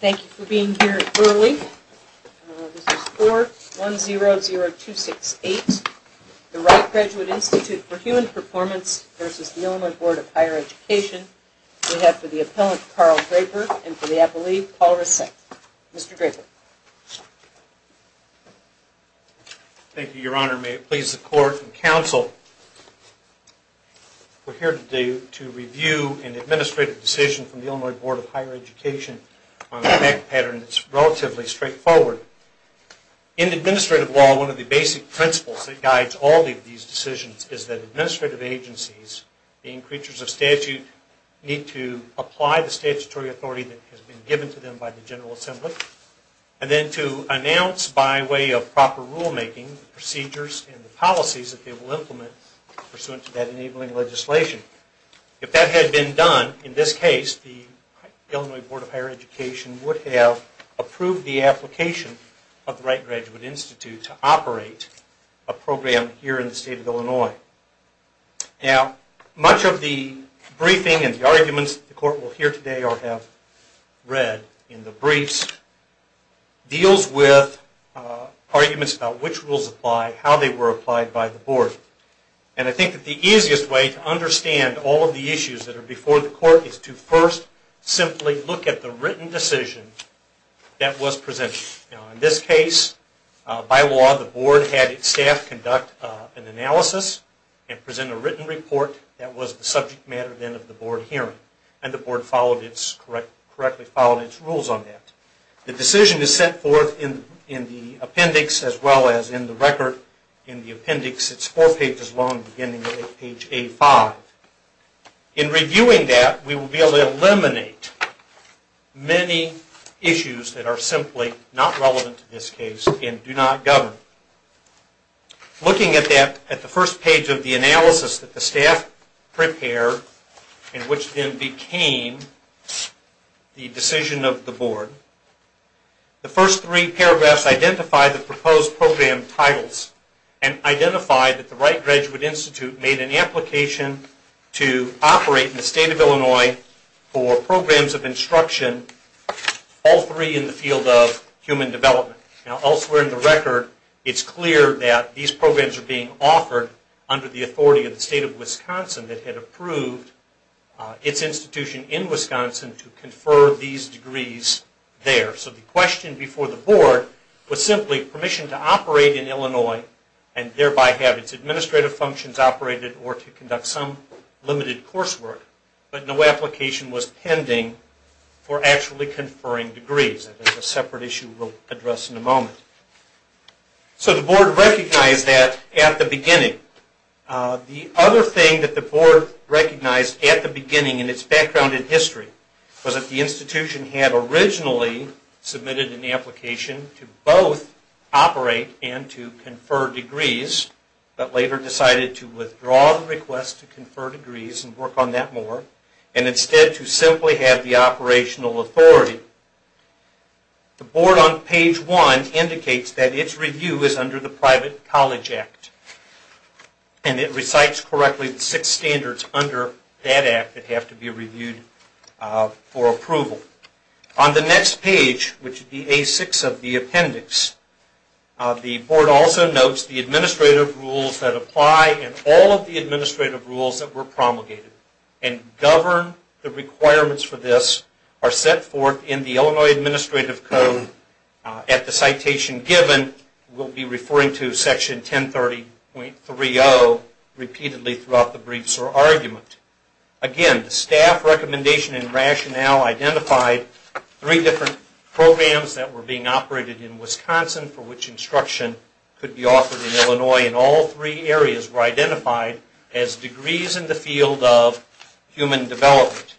Thank you for being here early. This is 4100268, the Wright Graduate Institute for Human Performance v. The Illinois Board of Higher Education. We have for the appellant, Carl Draper, and for the appellee, Paul Risseck. Mr. Draper. Thank you, your honor. May it please the court and counsel, we're here today to review an administrative decision from the Illinois Board of Higher Education on a fact pattern that's relatively straightforward. In administrative law, one of the basic principles that guides all these decisions is that administrative agencies, being creatures of statute, need to apply the statutory authority that has been given to them by the General Assembly. And then to announce by way of proper rulemaking procedures and policies that they will implement pursuant to that enabling legislation. If that had been done, in this case, the Illinois Board of Higher Education would have approved the application of the Wright Graduate Institute to operate a program here in the state of Illinois. Now, much of the briefing and the arguments the court will hear today or have read in the briefs deals with arguments about which rules apply, how they were applied by the board. And I think that the easiest way to understand all of the issues that are before the court is to first simply look at the written decision that was presented. In this case, by law, the board had its staff conduct an analysis and present a written report that was the subject matter then of the board hearing. And the board followed its, correctly followed its rules on that. The decision is sent forth in the appendix as well as in the record. In the appendix, it's four pages long beginning with page A5. In reviewing that, we will be able to eliminate many issues that are simply not relevant to this case and do not govern. Looking at the first page of the analysis that the staff prepared and which then became the decision of the board, the first three paragraphs identify the proposed program titles and identify that the Wright Graduate Institute made an application to operate in the state of Illinois for programs of instruction, all three in the field of human development. Now elsewhere in the record, it's clear that these programs are being offered under the authority of the state of Wisconsin that had approved its institution in Wisconsin to confer these degrees there. So the question before the board was simply permission to operate in Illinois and thereby have its administrative functions operated or to conduct some limited coursework, but no application was pending for actually conferring degrees. That's a separate issue we'll address in a moment. So the board recognized that at the beginning. The other thing that the board recognized at the beginning in its background in history was that the institution had originally submitted an application to both operate and to confer degrees, but later decided to withdraw the request to confer degrees and work on that more and instead to simply have the operational authority. The board on page one indicates that its review is under the private college act and it recites correctly the six standards under that act that have to be reviewed for approval. On the next page, which would be A6 of the appendix, the board also notes the administrative rules that apply and all of the administrative rules that were promulgated and govern the requirements for this are set forth in the Illinois Administrative Code at the citation given. We'll be referring to section 1030.30 repeatedly throughout the briefs or argument. Again, the staff recommendation and rationale identified three different programs that were being operated in Wisconsin for which instruction could be offered in Illinois and all three areas were identified as degrees in the field of human development.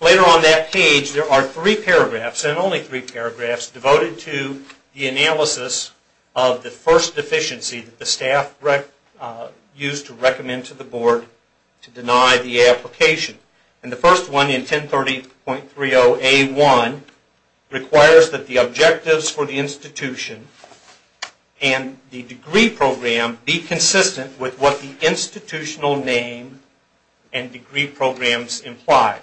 Later on that page, there are three paragraphs and only three paragraphs devoted to the analysis of the first deficiency that the staff used to recommend to the board to deny the application. The first one in 1030.30A1 requires that the objectives for the institution and the degree program be consistent with what the institutional name and degree programs imply.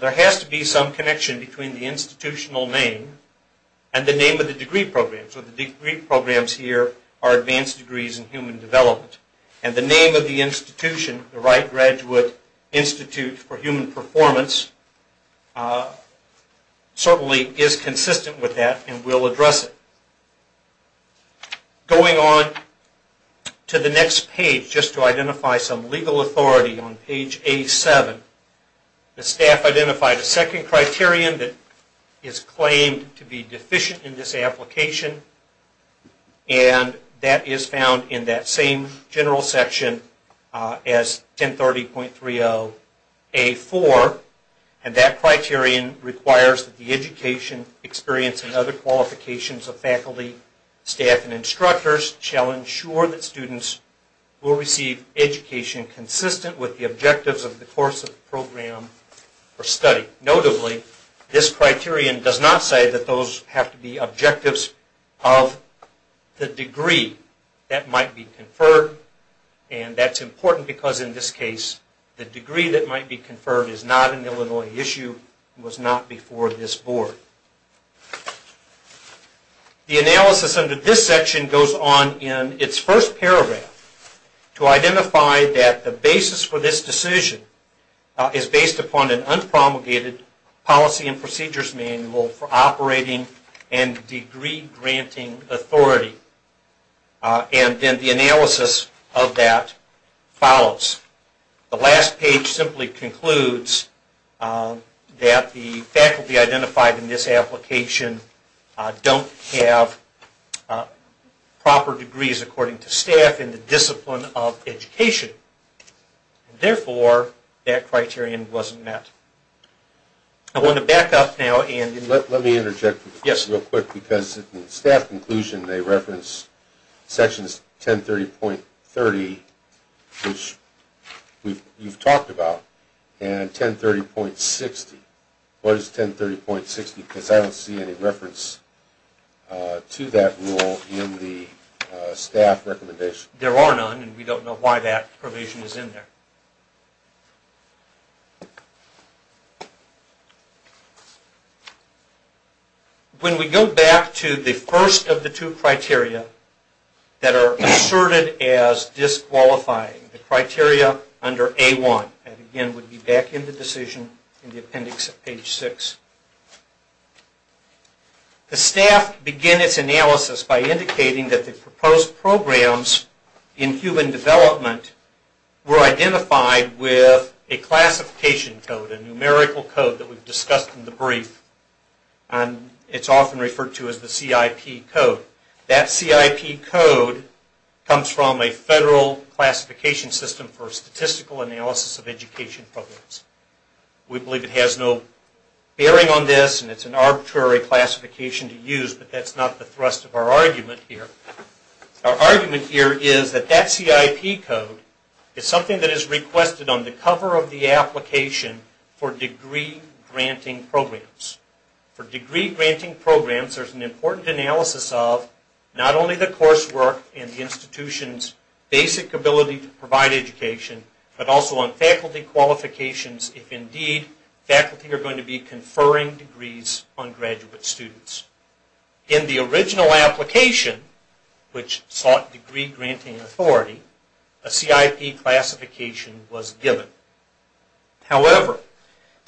There has to be some connection between the institutional name and the name of the degree program. The degree programs here are advanced degrees in human development and the name of the institution, the Wright Graduate Institute for Human Performance, certainly is consistent with that and will address it. Going on to the next page, just to identify some legal authority on page A7, the staff identified a second criterion that is claimed to be deficient in this application and that is found in that same general section as 1030.30A4. That criterion requires that the education experience and other qualifications of faculty, staff, and instructors shall ensure that students will receive education consistent with the objectives of the course of the program or study. Notably, this criterion does not say that those have to be objectives of the degree that might be conferred and that is important because in this case the degree that might be conferred is not an Illinois issue and was not before this board. The analysis under this section goes on in its first paragraph to identify that the basis for this decision is based upon an unpromulgated policy and procedures manual for operating and degree granting authority. And then the analysis of that follows. The last page simply concludes that the faculty identified in this application don't have proper degrees according to staff in the discipline of education. Therefore, that criterion wasn't met. I want to back up now and... Let me interject real quick because in the staff conclusion they reference sections 1030.30 which you've talked about and 1030.60. What is 1030.60 because I don't see any reference to that rule in the staff recommendation. There are none and we don't know why that provision is in there. When we go back to the first of the two criteria that are asserted as disqualifying, the criteria under A1, and again we'll be back in the decision in the appendix at page 6. The staff begin its analysis by indicating that the proposed programs in human development were identified with a classification code, a numerical code that we've discussed in the brief and it's often referred to as the CIP code. That CIP code comes from a federal classification system for statistical analysis of education programs. We believe it has no bearing on this and it's an arbitrary classification to use but that's not the thrust of our argument here. Our argument here is that that CIP code is something that is requested on the cover of the application for degree granting programs. For degree granting programs there's an important analysis of not only the coursework and the institution's basic ability to provide education but also on faculty qualifications if indeed faculty are going to be conferring degrees on graduate students. In the original application, which sought degree granting authority, a CIP classification was given. However,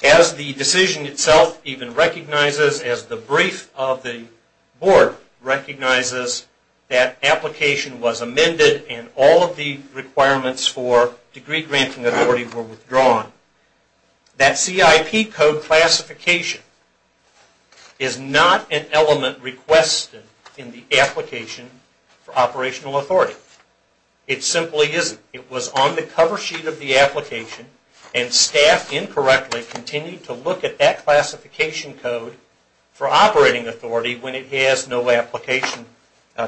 as the decision itself even recognizes, as the brief of the board recognizes that application was amended and all of the requirements for degree granting authority were withdrawn, that CIP code classification is not an element requested in the application for operational authority. It simply isn't. It was on the cover sheet of the application and staff incorrectly continued to look at that classification code for operating authority when it has no application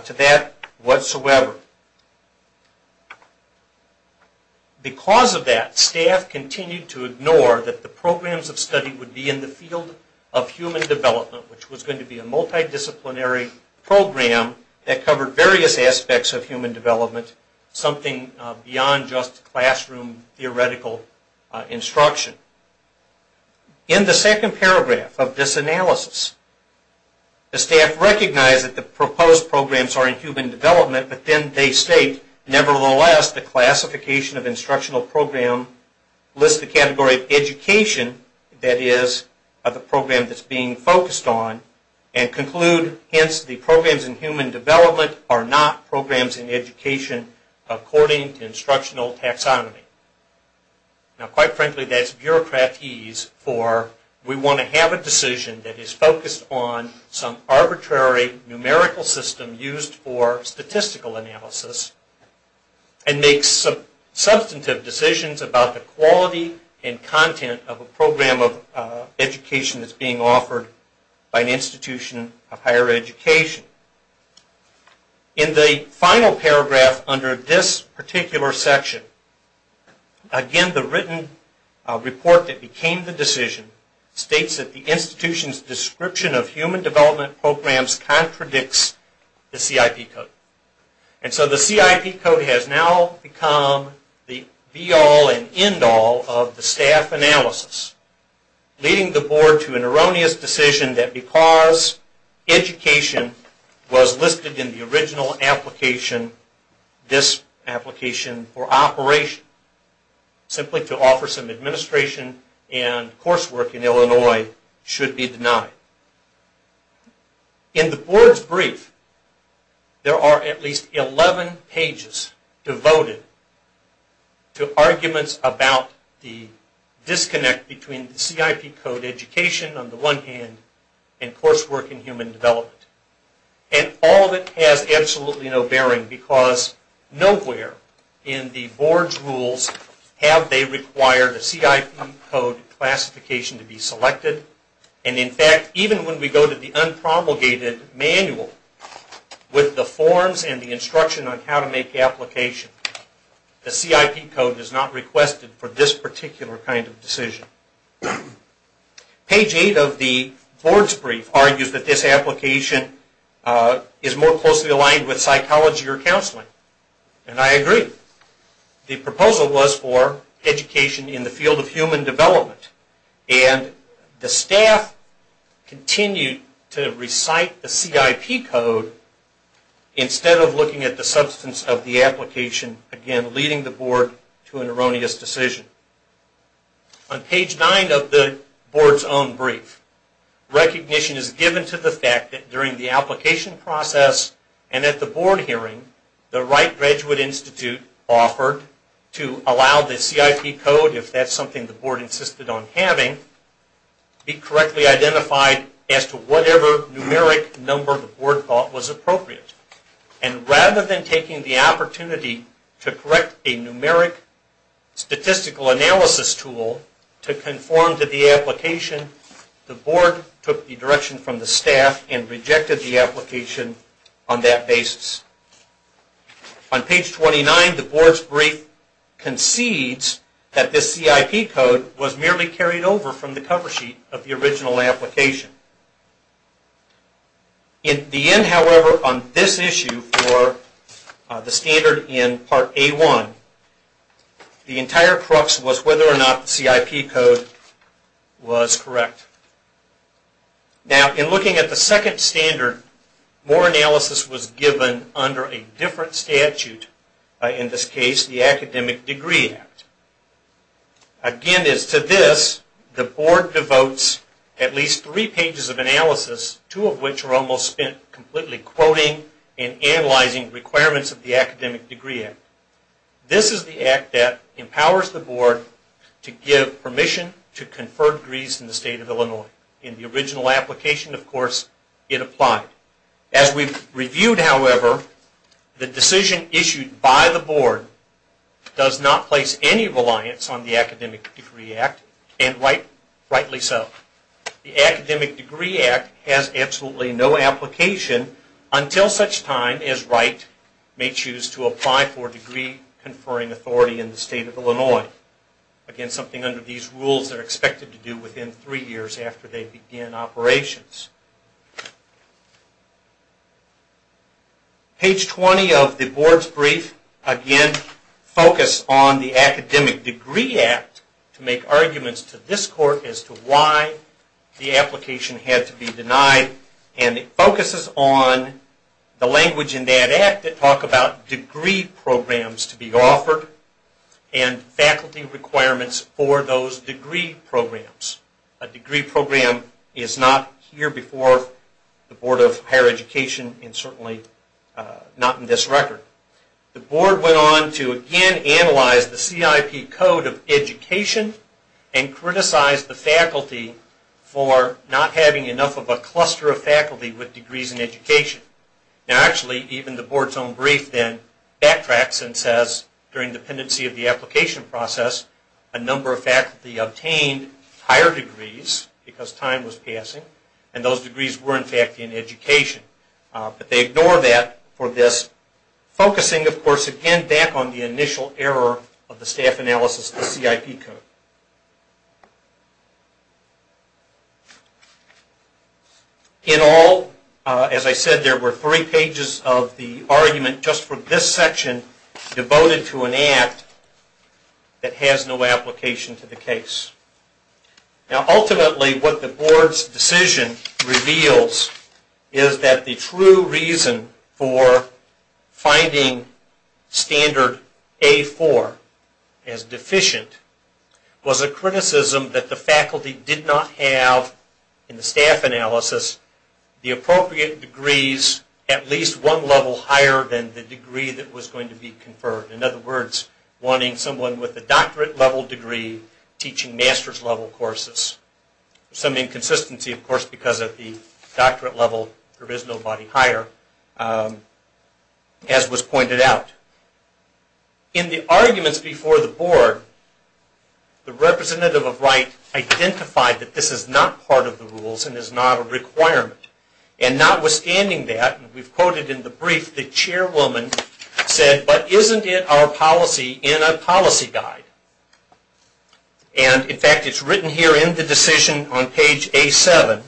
to that whatsoever. Because of that, staff continued to ignore that the programs of study would be in the field of human development, which was going to be a multidisciplinary program that covered various aspects of human development, something beyond just classroom theoretical instruction. In the second paragraph of this analysis, the staff recognized that the proposed programs are in human development, but then they state, nevertheless, the classification of instructional program lists the category of education that is the program that's being focused on and conclude, hence, the programs in human development are not programs in education according to instructional taxonomy. Quite frankly, that's bureaucratese for we want to have a decision that is focused on some arbitrary numerical system used for statistical analysis and make substantive decisions about the quality and content of a program of education that's being offered by an institution of higher education. In the final paragraph under this particular section, again, the written report that became the decision states that the institution's description of human development programs contradicts the CIP code. And so the CIP code has now become the be all and end all of the staff analysis, leading the board to an erroneous decision that because education was listed in the original application, this application for operation, simply to offer some administration and coursework in Illinois, should be denied. In the board's brief, there are at least 11 pages devoted to arguments about the disconnect between the CIP code education on the one hand and coursework in human development. And all of it has absolutely no bearing because nowhere in the board's rules have they required a CIP code classification to be selected. And in fact, even when we go to the unpromulgated manual with the forms and the instruction on how to make the application, the CIP code is not requested for this particular kind of decision. Page 8 of the board's brief argues that this application is more closely aligned with psychology or counseling. And I agree. The proposal was for education in the field of human development. And the staff continued to recite the CIP code instead of looking at the substance of the application, again leading the board to an erroneous decision. On page 9 of the board's own brief, recognition is given to the fact that during the application process and at the board hearing, the right graduate institute offered to allow the CIP code, if that's something the board insisted on having, be correctly identified as to whatever numeric number the board thought was appropriate. And rather than taking the opportunity to correct a numeric statistical analysis tool to conform to the application, the board took the direction from the staff and rejected the application on that basis. On page 29, the board's brief concedes that this CIP code was merely carried over from the cover sheet of the original application. In the end, however, on this issue for the standard in Part A1, the entire crux was whether or not the CIP code was correct. Now, in looking at the second standard, more analysis was given under a different statute, in this case the Academic Degree Act. Again, as to this, the board devotes at least three pages of analysis, two of which are almost spent completely quoting and analyzing requirements of the Academic Degree Act. This is the act that empowers the board to give permission to confer degrees in the state of Illinois. In the original application, of course, it applied. As we've reviewed, however, the decision issued by the board does not place any reliance on the Academic Degree Act, and rightly so. The Academic Degree Act has absolutely no application until such time as Wright may choose to apply for degree-conferring authority in the state of Illinois. Again, something under these rules that are expected to do within three years after they begin operations. Page 20 of the board's brief, again, focuses on the Academic Degree Act to make arguments to this court as to why the application had to be denied. It focuses on the language in that act that talk about degree programs to be offered and faculty requirements for those degree programs. A degree program is not here before the Board of Higher Education, and certainly not in this record. The board went on to again analyze the CIP code of education and criticize the faculty for not having enough of a cluster of faculty with degrees in education. Actually, even the board's own brief then backtracks and says, during the pendency of the application process, a number of faculty obtained higher degrees because time was passing, and those degrees were, in fact, in education. But they ignore that for this, focusing, of course, again, back on the initial error of the staff analysis of the CIP code. In all, as I said, there were three pages of the argument just for this section devoted to an act that has no application to the case. Ultimately, what the board's decision reveals is that the true reason for finding standard A4 as deficient was a criticism that the faculty did not have, in the staff analysis, the appropriate degrees at least one level higher than the degree that was going to be conferred. In other words, wanting someone with a doctorate level degree teaching master's level courses. Some inconsistency, of course, because at the doctorate level there is nobody higher, as was pointed out. In the arguments before the board, the representative of right identified that this is not part of the rules and is not a requirement. And notwithstanding that, we've quoted in the brief, the chairwoman said, but isn't it our policy in a policy guide? And, in fact, it's written here in the decision on page A7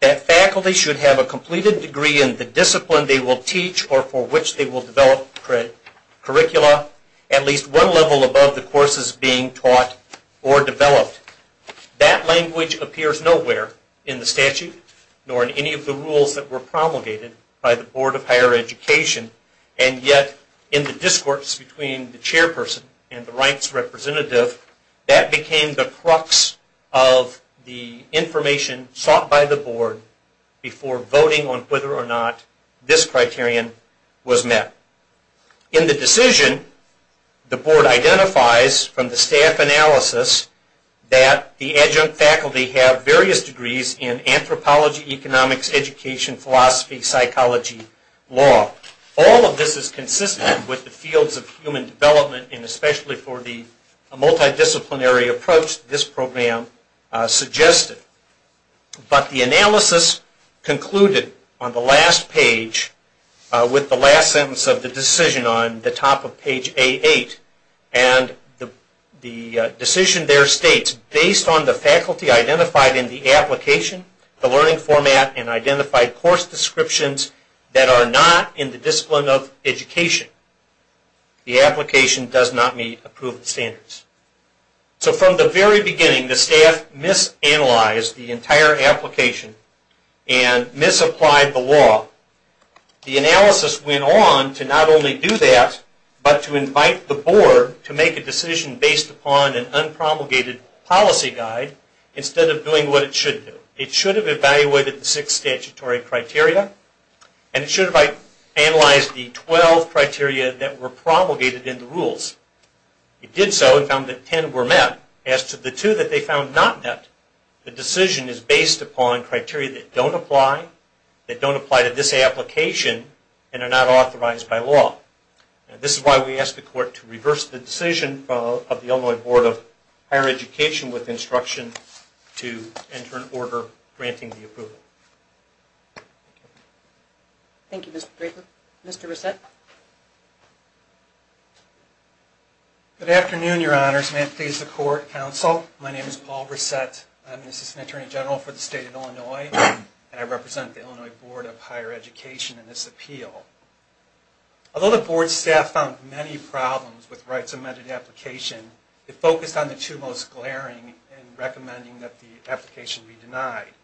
that faculty should have a completed degree in the discipline they will teach or for which they will develop curricula at least one level above the courses being taught or developed. That language appears nowhere in the statute nor in any of the rules that were promulgated by the Board of Higher Education. And yet, in the discourse between the chairperson and the rights representative, that became the crux of the information sought by the board before voting on whether or not this criterion was met. In the decision, the board identifies from the staff analysis that the adjunct faculty have various degrees in anthropology, economics, education, philosophy, psychology, law. All of this is consistent with the fields of human development and especially for the multidisciplinary approach this program suggested. But the analysis concluded on the last page with the last sentence of the decision on the top of page A8 and the decision there states, based on the faculty identified in the application, the learning format, and identified course descriptions that are not in the discipline of education, the application does not meet approved standards. So from the very beginning the staff misanalyzed the entire application and misapplied the law. The analysis went on to not only do that, but to invite the board to make a decision based upon an unpromulgated policy guide instead of doing what it should do. It should have evaluated the six statutory criteria and it should have analyzed the 12 criteria that were promulgated in the rules. It did so and found that 10 were met. As to the two that they found not met, the decision is based upon criteria that don't apply, that don't apply to this application, and are not authorized by law. This is why we ask the court to reverse the decision of the Illinois Board of Higher Education with instruction to enter an order granting the approval. Thank you, Mr. Draper. Mr. Reset. Good afternoon, your honors. May it please the court, counsel. My name is Paul Reset. I'm an assistant attorney general for the state of Illinois and I represent the Illinois Board of Higher Education in this appeal. Although the board staff found many problems with the rights amended application, it focused on the two most glaring in recommending that the application be denied.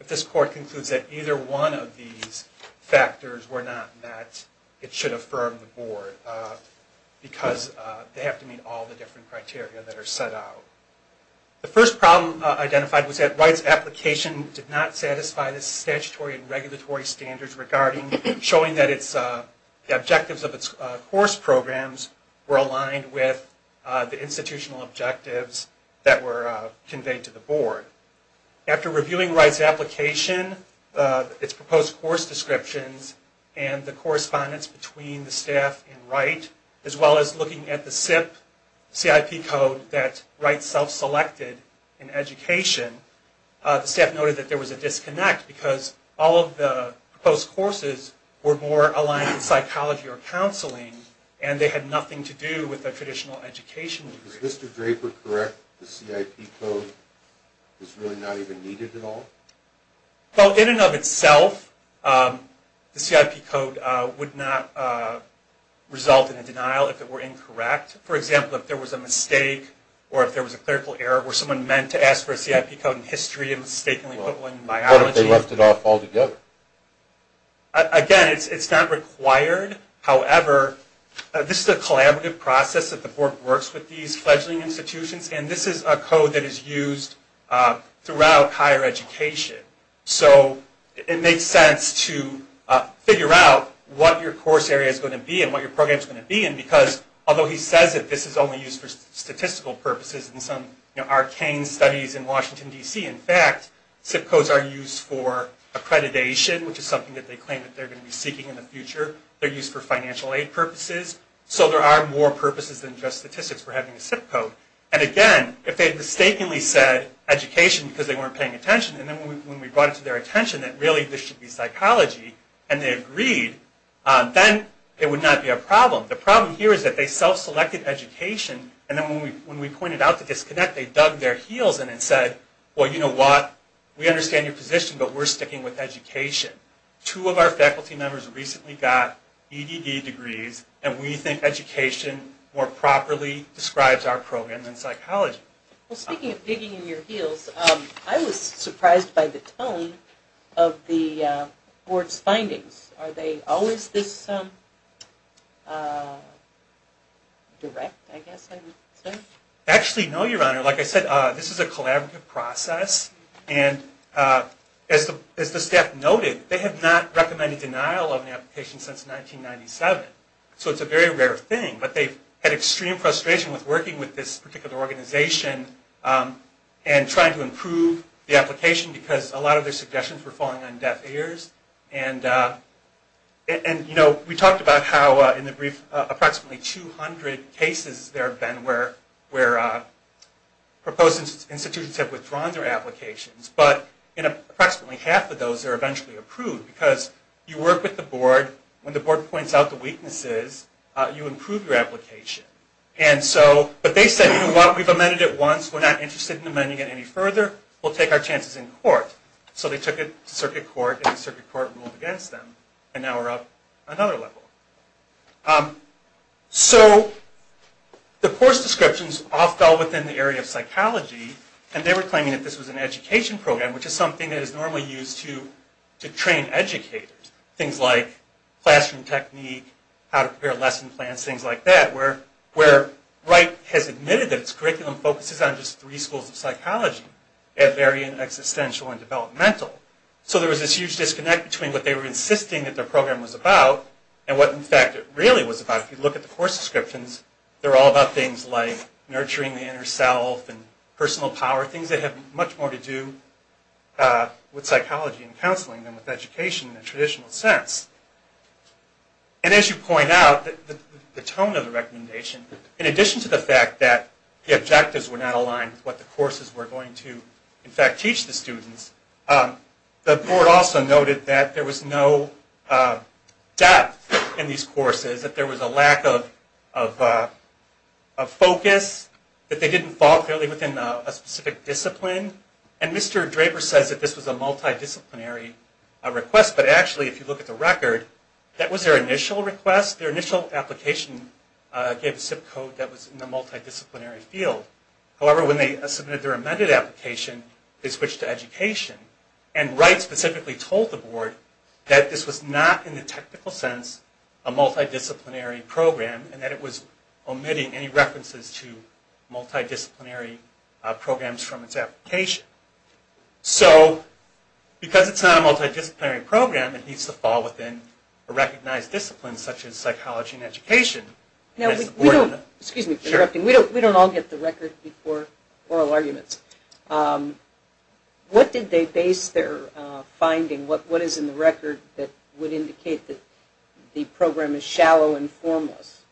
If this court concludes that either one of these factors were not met, it should affirm the board because they have to meet all the different criteria that are set out. The first problem identified was that rights application did not satisfy the statutory and regulatory standards regarding showing that the objectives of its course programs were aligned with the institutional objectives that were conveyed to the board. After reviewing rights application, its proposed course descriptions, and the correspondence between the staff and Wright, as well as looking at the SIP, CIP code that Wright self-selected in education, the staff noted that there was a disconnect because all of the proposed courses were more aligned with psychology or counseling and they had nothing to do with the traditional education. Is Mr. Draper correct that the CIP code is really not even needed at all? Well, in and of itself, the CIP code would not result in a denial if it were incorrect. For example, if there was a mistake or if there was a clerical error, were someone meant to ask for a CIP code in history and mistakenly put one in biology? What if they left it off altogether? Again, it's not required. However, this is a collaborative process that the board works with these fledgling institutions and this is a code that is used throughout higher education. So it makes sense to figure out what your course area is going to be and what your program is going to be in because although he says that this is only used for statistical purposes in some arcane studies in Washington, D.C., in fact, CIP codes are used for accreditation, which is something that they claim that they're going to be seeking in the future. They're used for financial aid purposes. So there are more purposes than just statistics for having a CIP code. And again, if they had mistakenly said education because they weren't paying attention and then when we brought it to their attention that really this should be psychology and they agreed, then it would not be a problem. The problem here is that they self-selected education and then when we pointed out the disconnect, they dug their heels in and said, well, you know what? We understand your position, but we're sticking with education. Two of our faculty members recently got EDD degrees and we think education more properly describes our program than psychology. Well, speaking of digging in your heels, I was surprised by the tone of the board's findings. Are they always this direct, I guess I would say? Actually, no, Your Honor. Like I said, this is a collaborative process. And as the staff noted, they have not recommended denial of an application since 1997. So it's a very rare thing. But they've had extreme frustration with working with this particular organization and trying to improve the application because a lot of their suggestions were falling on deaf ears. And we talked about how in the brief approximately 200 cases there have been where proposed institutions have withdrawn their applications. But approximately half of those are eventually approved because you work with the board. When the board points out the weaknesses, you improve your application. But they said, you know what? We've amended it once. We're not interested in amending it any further. We'll take our chances in court. So they took it to circuit court, and the circuit court ruled against them. And now we're up another level. So the course descriptions all fell within the area of psychology. And they were claiming that this was an education program, which is something that is normally used to train educators. Things like classroom technique, how to prepare lesson plans, things like that, where Wright has admitted that its curriculum focuses on just three schools of psychology that vary in existential and developmental. So there was this huge disconnect between what they were insisting that their program was about and what, in fact, it really was about. If you look at the course descriptions, they're all about things like nurturing the inner self and personal power, things that have much more to do with psychology and counseling than with education in the traditional sense. And as you point out, the tone of the recommendation, in addition to the fact that the objectives were not aligned with what the courses were going to, in fact, teach the students, the court also noted that there was no depth in these courses, that there was a lack of focus, that they didn't fall clearly within a specific discipline. And Mr. Draper says that this was a multidisciplinary request. But actually, if you look at the record, that was their initial request. Their initial application gave a SIP code that was in the multidisciplinary field. However, when they submitted their amended application, they switched to education. And Wright specifically told the board that this was not, in the technical sense, a multidisciplinary program and that it was omitting any references to multidisciplinary programs from its application. So because it's not a multidisciplinary program, it needs to fall within a recognized discipline such as psychology and education. Excuse me for interrupting. We don't all get the record before oral arguments. What did they base their finding, what is in the record, that would indicate that the program is shallow and formless?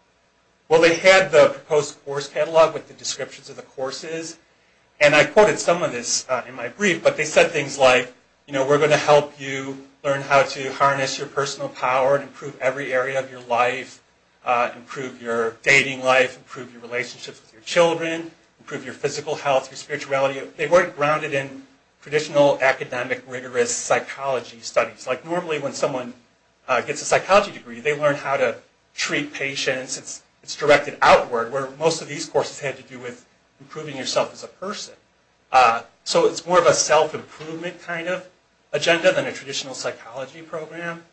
Well, they had the proposed course catalog with the descriptions of the courses. And I quoted some of this in my brief. But they said things like, we're going to help you learn how to harness your personal power and improve every area of your life, improve your dating life, improve your relationships with your children, improve your physical health, your spirituality. They weren't grounded in traditional academic rigorous psychology studies. Like normally when someone gets a psychology degree, they learn how to treat patients. It's directed outward, where most of these courses had to do with improving yourself as a person. So it's more of a self-improvement kind of agenda than a traditional psychology program.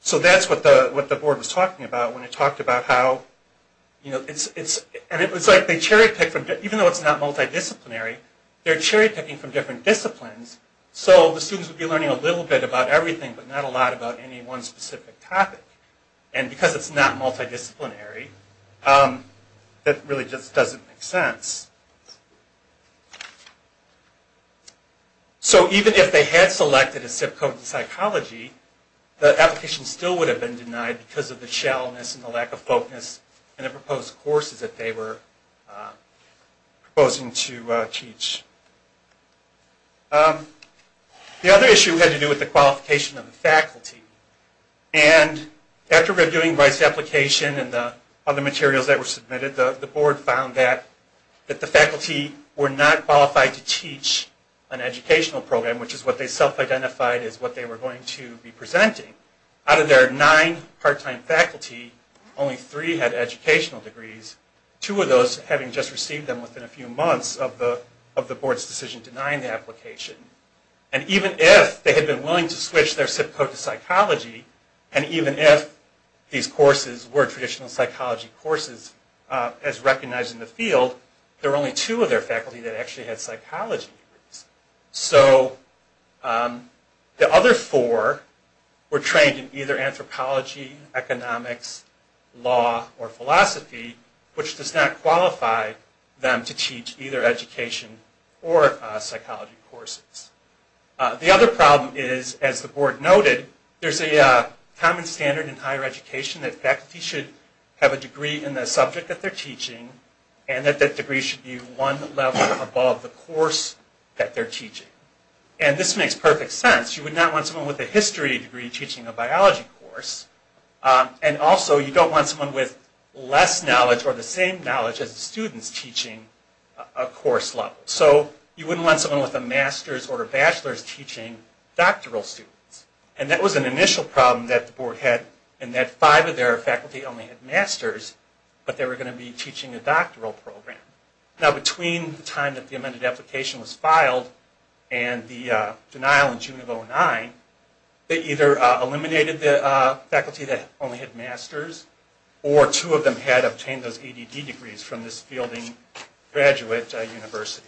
So that's what the board was talking about when it talked about how, you know, and it was like they cherry-picked, even though it's not multidisciplinary, they're cherry-picking from different disciplines. So the students would be learning a little bit about everything, but not a lot about any one specific topic. And because it's not multidisciplinary, that really just doesn't make sense. So even if they had selected a SIP code in psychology, the application still would have been denied because of the shallowness and the lack of focus in the proposed courses that they were proposing to teach. The other issue had to do with the qualification of the faculty. And after reviewing the application and the other materials that were submitted, the board found that the faculty were not qualified to teach an educational program, which is what they self-identified as what they were going to be presenting. Out of their nine part-time faculty, only three had educational degrees, two of those having just received them within a few months of the board's decision denying the application. And even if they had been willing to switch their SIP code to psychology, and even if these courses were traditional psychology courses as recognized in the field, there were only two of their faculty that actually had psychology degrees. So the other four were trained in either anthropology, economics, law, or philosophy, which does not qualify them to teach either education or psychology courses. The other problem is, as the board noted, there's a common standard in higher education that faculty should have a degree in the subject that they're teaching, and that that degree should be one level above the course that they're teaching. And this makes perfect sense. You would not want someone with a history degree teaching a biology course, and also you don't want someone with less knowledge or the same knowledge as the students teaching a course level. So you wouldn't want someone with a master's or a bachelor's teaching doctoral students. And that was an initial problem that the board had in that five of their faculty only had master's, but they were going to be teaching a doctoral program. Now between the time that the amended application was filed and the denial in June of 2009, they either eliminated the faculty that only had master's, or two of them had obtained those ADD degrees from this fielding graduate university.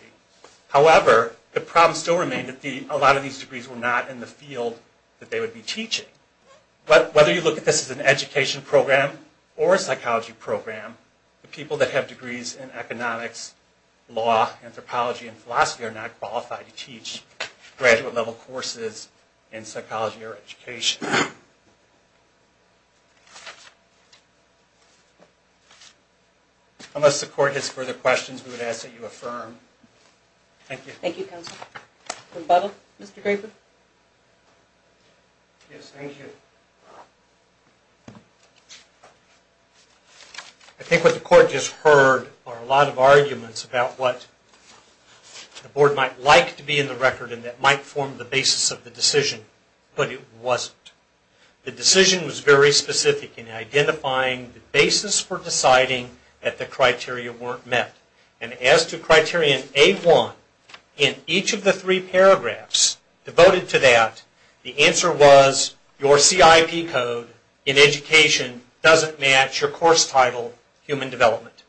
However, the problem still remained that a lot of these degrees were not in the field that they would be teaching. Whether you look at this as an education program or a psychology program, the people that have degrees in economics, law, anthropology, and philosophy are not qualified to teach graduate level courses in psychology or education. Unless the court has further questions, we would ask that you affirm. Thank you. Thank you, counsel. Rebuttal, Mr. Graper? Yes, thank you. I think what the court just heard are a lot of arguments about what the board might like to be in the record and that might form the basis of the decision, but it wasn't. The decision was very specific in identifying the basis for deciding that the criteria weren't met. And as to criterion A1, in each of the three paragraphs devoted to that, the answer was, your CIP code in education doesn't match your course title, Human Development.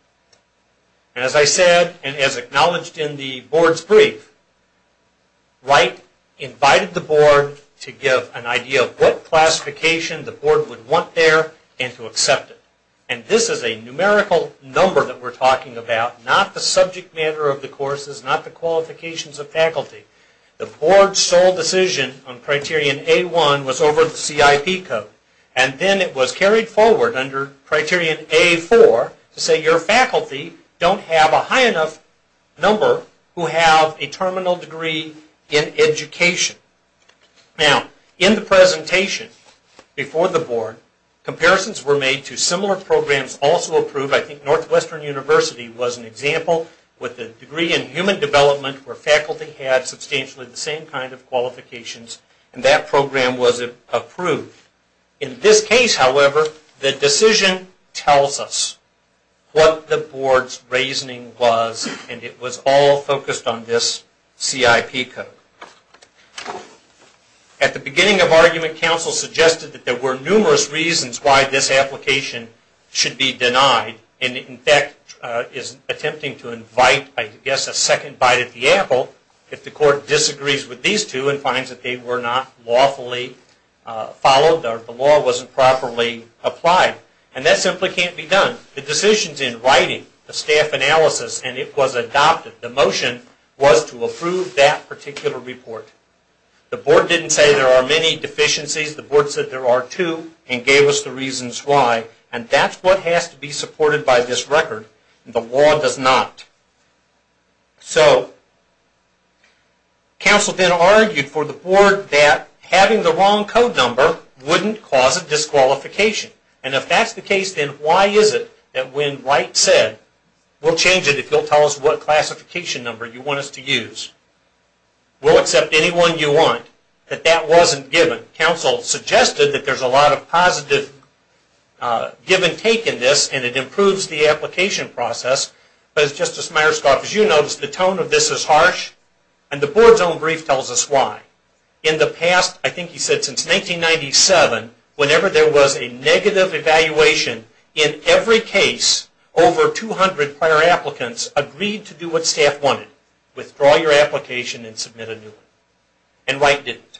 And as I said, and as acknowledged in the board's brief, Wright invited the board to give an idea of what classification the board would want there and to accept it. And this is a numerical number that we're talking about, not the subject matter of the courses, not the qualifications of faculty. The board's sole decision on criterion A1 was over the CIP code. And then it was carried forward under criterion A4 to say your faculty don't have a high enough number who have a terminal degree in education. Now, in the presentation before the board, comparisons were made to similar programs also approved. I think Northwestern University was an example with a degree in Human Development where faculty had substantially the same kind of qualifications and that program was approved. In this case, however, the decision tells us what the board's reasoning was and it was all focused on this CIP code. At the beginning of argument, council suggested that there were numerous reasons why this application should be denied and in fact is attempting to invite, I guess, a second bite at the apple if the court disagrees with these two and finds that they were not lawfully followed or the law wasn't properly applied. And that simply can't be done. The decisions in writing, the staff analysis, and it was adopted, the motion was to approve that particular report. The board didn't say there are many deficiencies. The board said there are two and gave us the reasons why. And that's what has to be supported by this record. The law does not. So, council then argued for the board that having the wrong code number wouldn't cause a disqualification. And if that's the case, then why is it that when Wright said, we'll change it if you'll tell us what classification number you want us to use, we'll accept anyone you want, that that wasn't given. The council suggested that there's a lot of positive give and take in this and it improves the application process, but as Justice Myerscough, as you noticed, the tone of this is harsh and the board's own brief tells us why. In the past, I think he said since 1997, whenever there was a negative evaluation, in every case, over 200 prior applicants agreed to do what staff wanted, withdraw your application and submit a new one. And Wright didn't.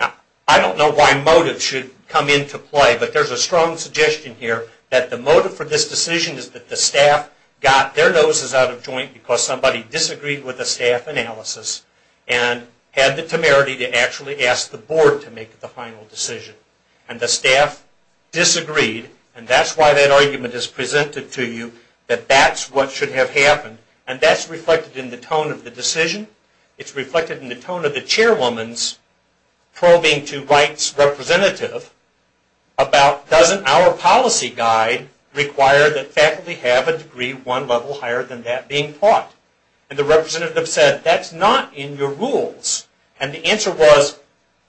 Now, I don't know why motives should come into play, but there's a strong suggestion here that the motive for this decision is that the staff got their noses out of joint because somebody disagreed with the staff analysis and had the temerity to actually ask the board to make the final decision. And the staff disagreed, and that's why that argument is presented to you, that that's what should have happened. And that's reflected in the tone of the decision. It's reflected in the tone of the chairwoman's probing to Wright's representative about doesn't our policy guide require that faculty have a degree one level higher than that being taught? And the representative said, that's not in your rules. And the answer was,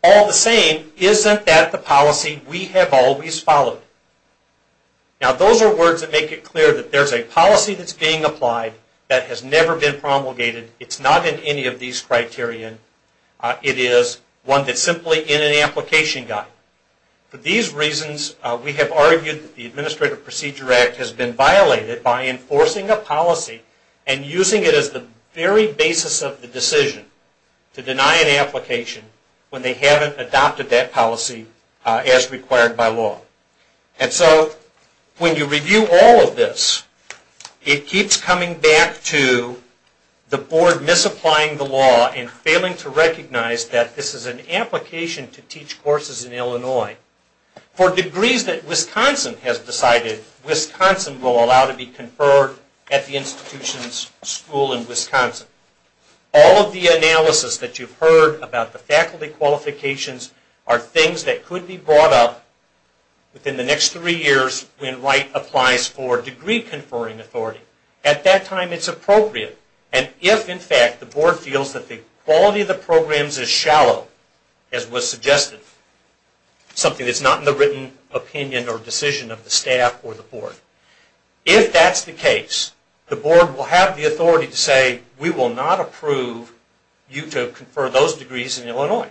all the same, isn't that the policy we have always followed? Now, those are words that make it clear that there's a policy that's being applied that has never been promulgated. It's not in any of these criteria. It is one that's simply in an application guide. For these reasons, we have argued that the Administrative Procedure Act has been violated by enforcing a policy and using it as the very basis of the decision to deny an application when they haven't adopted that policy as required by law. And so, when you review all of this, it keeps coming back to the board misapplying the law and failing to recognize that this is an application to teach courses in Illinois. For degrees that Wisconsin has decided, Wisconsin will allow to be conferred at the institution's school in Wisconsin. All of the analysis that you've heard about the faculty qualifications are things that could be brought up within the next three years when Wright applies for degree conferring authority. At that time, it's appropriate. And if, in fact, the board feels that the quality of the programs is shallow, as was suggested, something that's not in the written opinion or decision of the staff or the board, if that's the case, the board will have the authority to say, we will not approve you to confer those degrees in Illinois.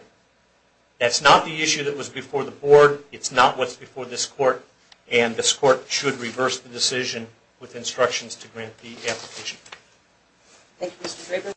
That's not the issue that was before the board. It's not what's before this court. And this court should reverse the decision with instructions to grant the application. Thank you, Mr. Draper.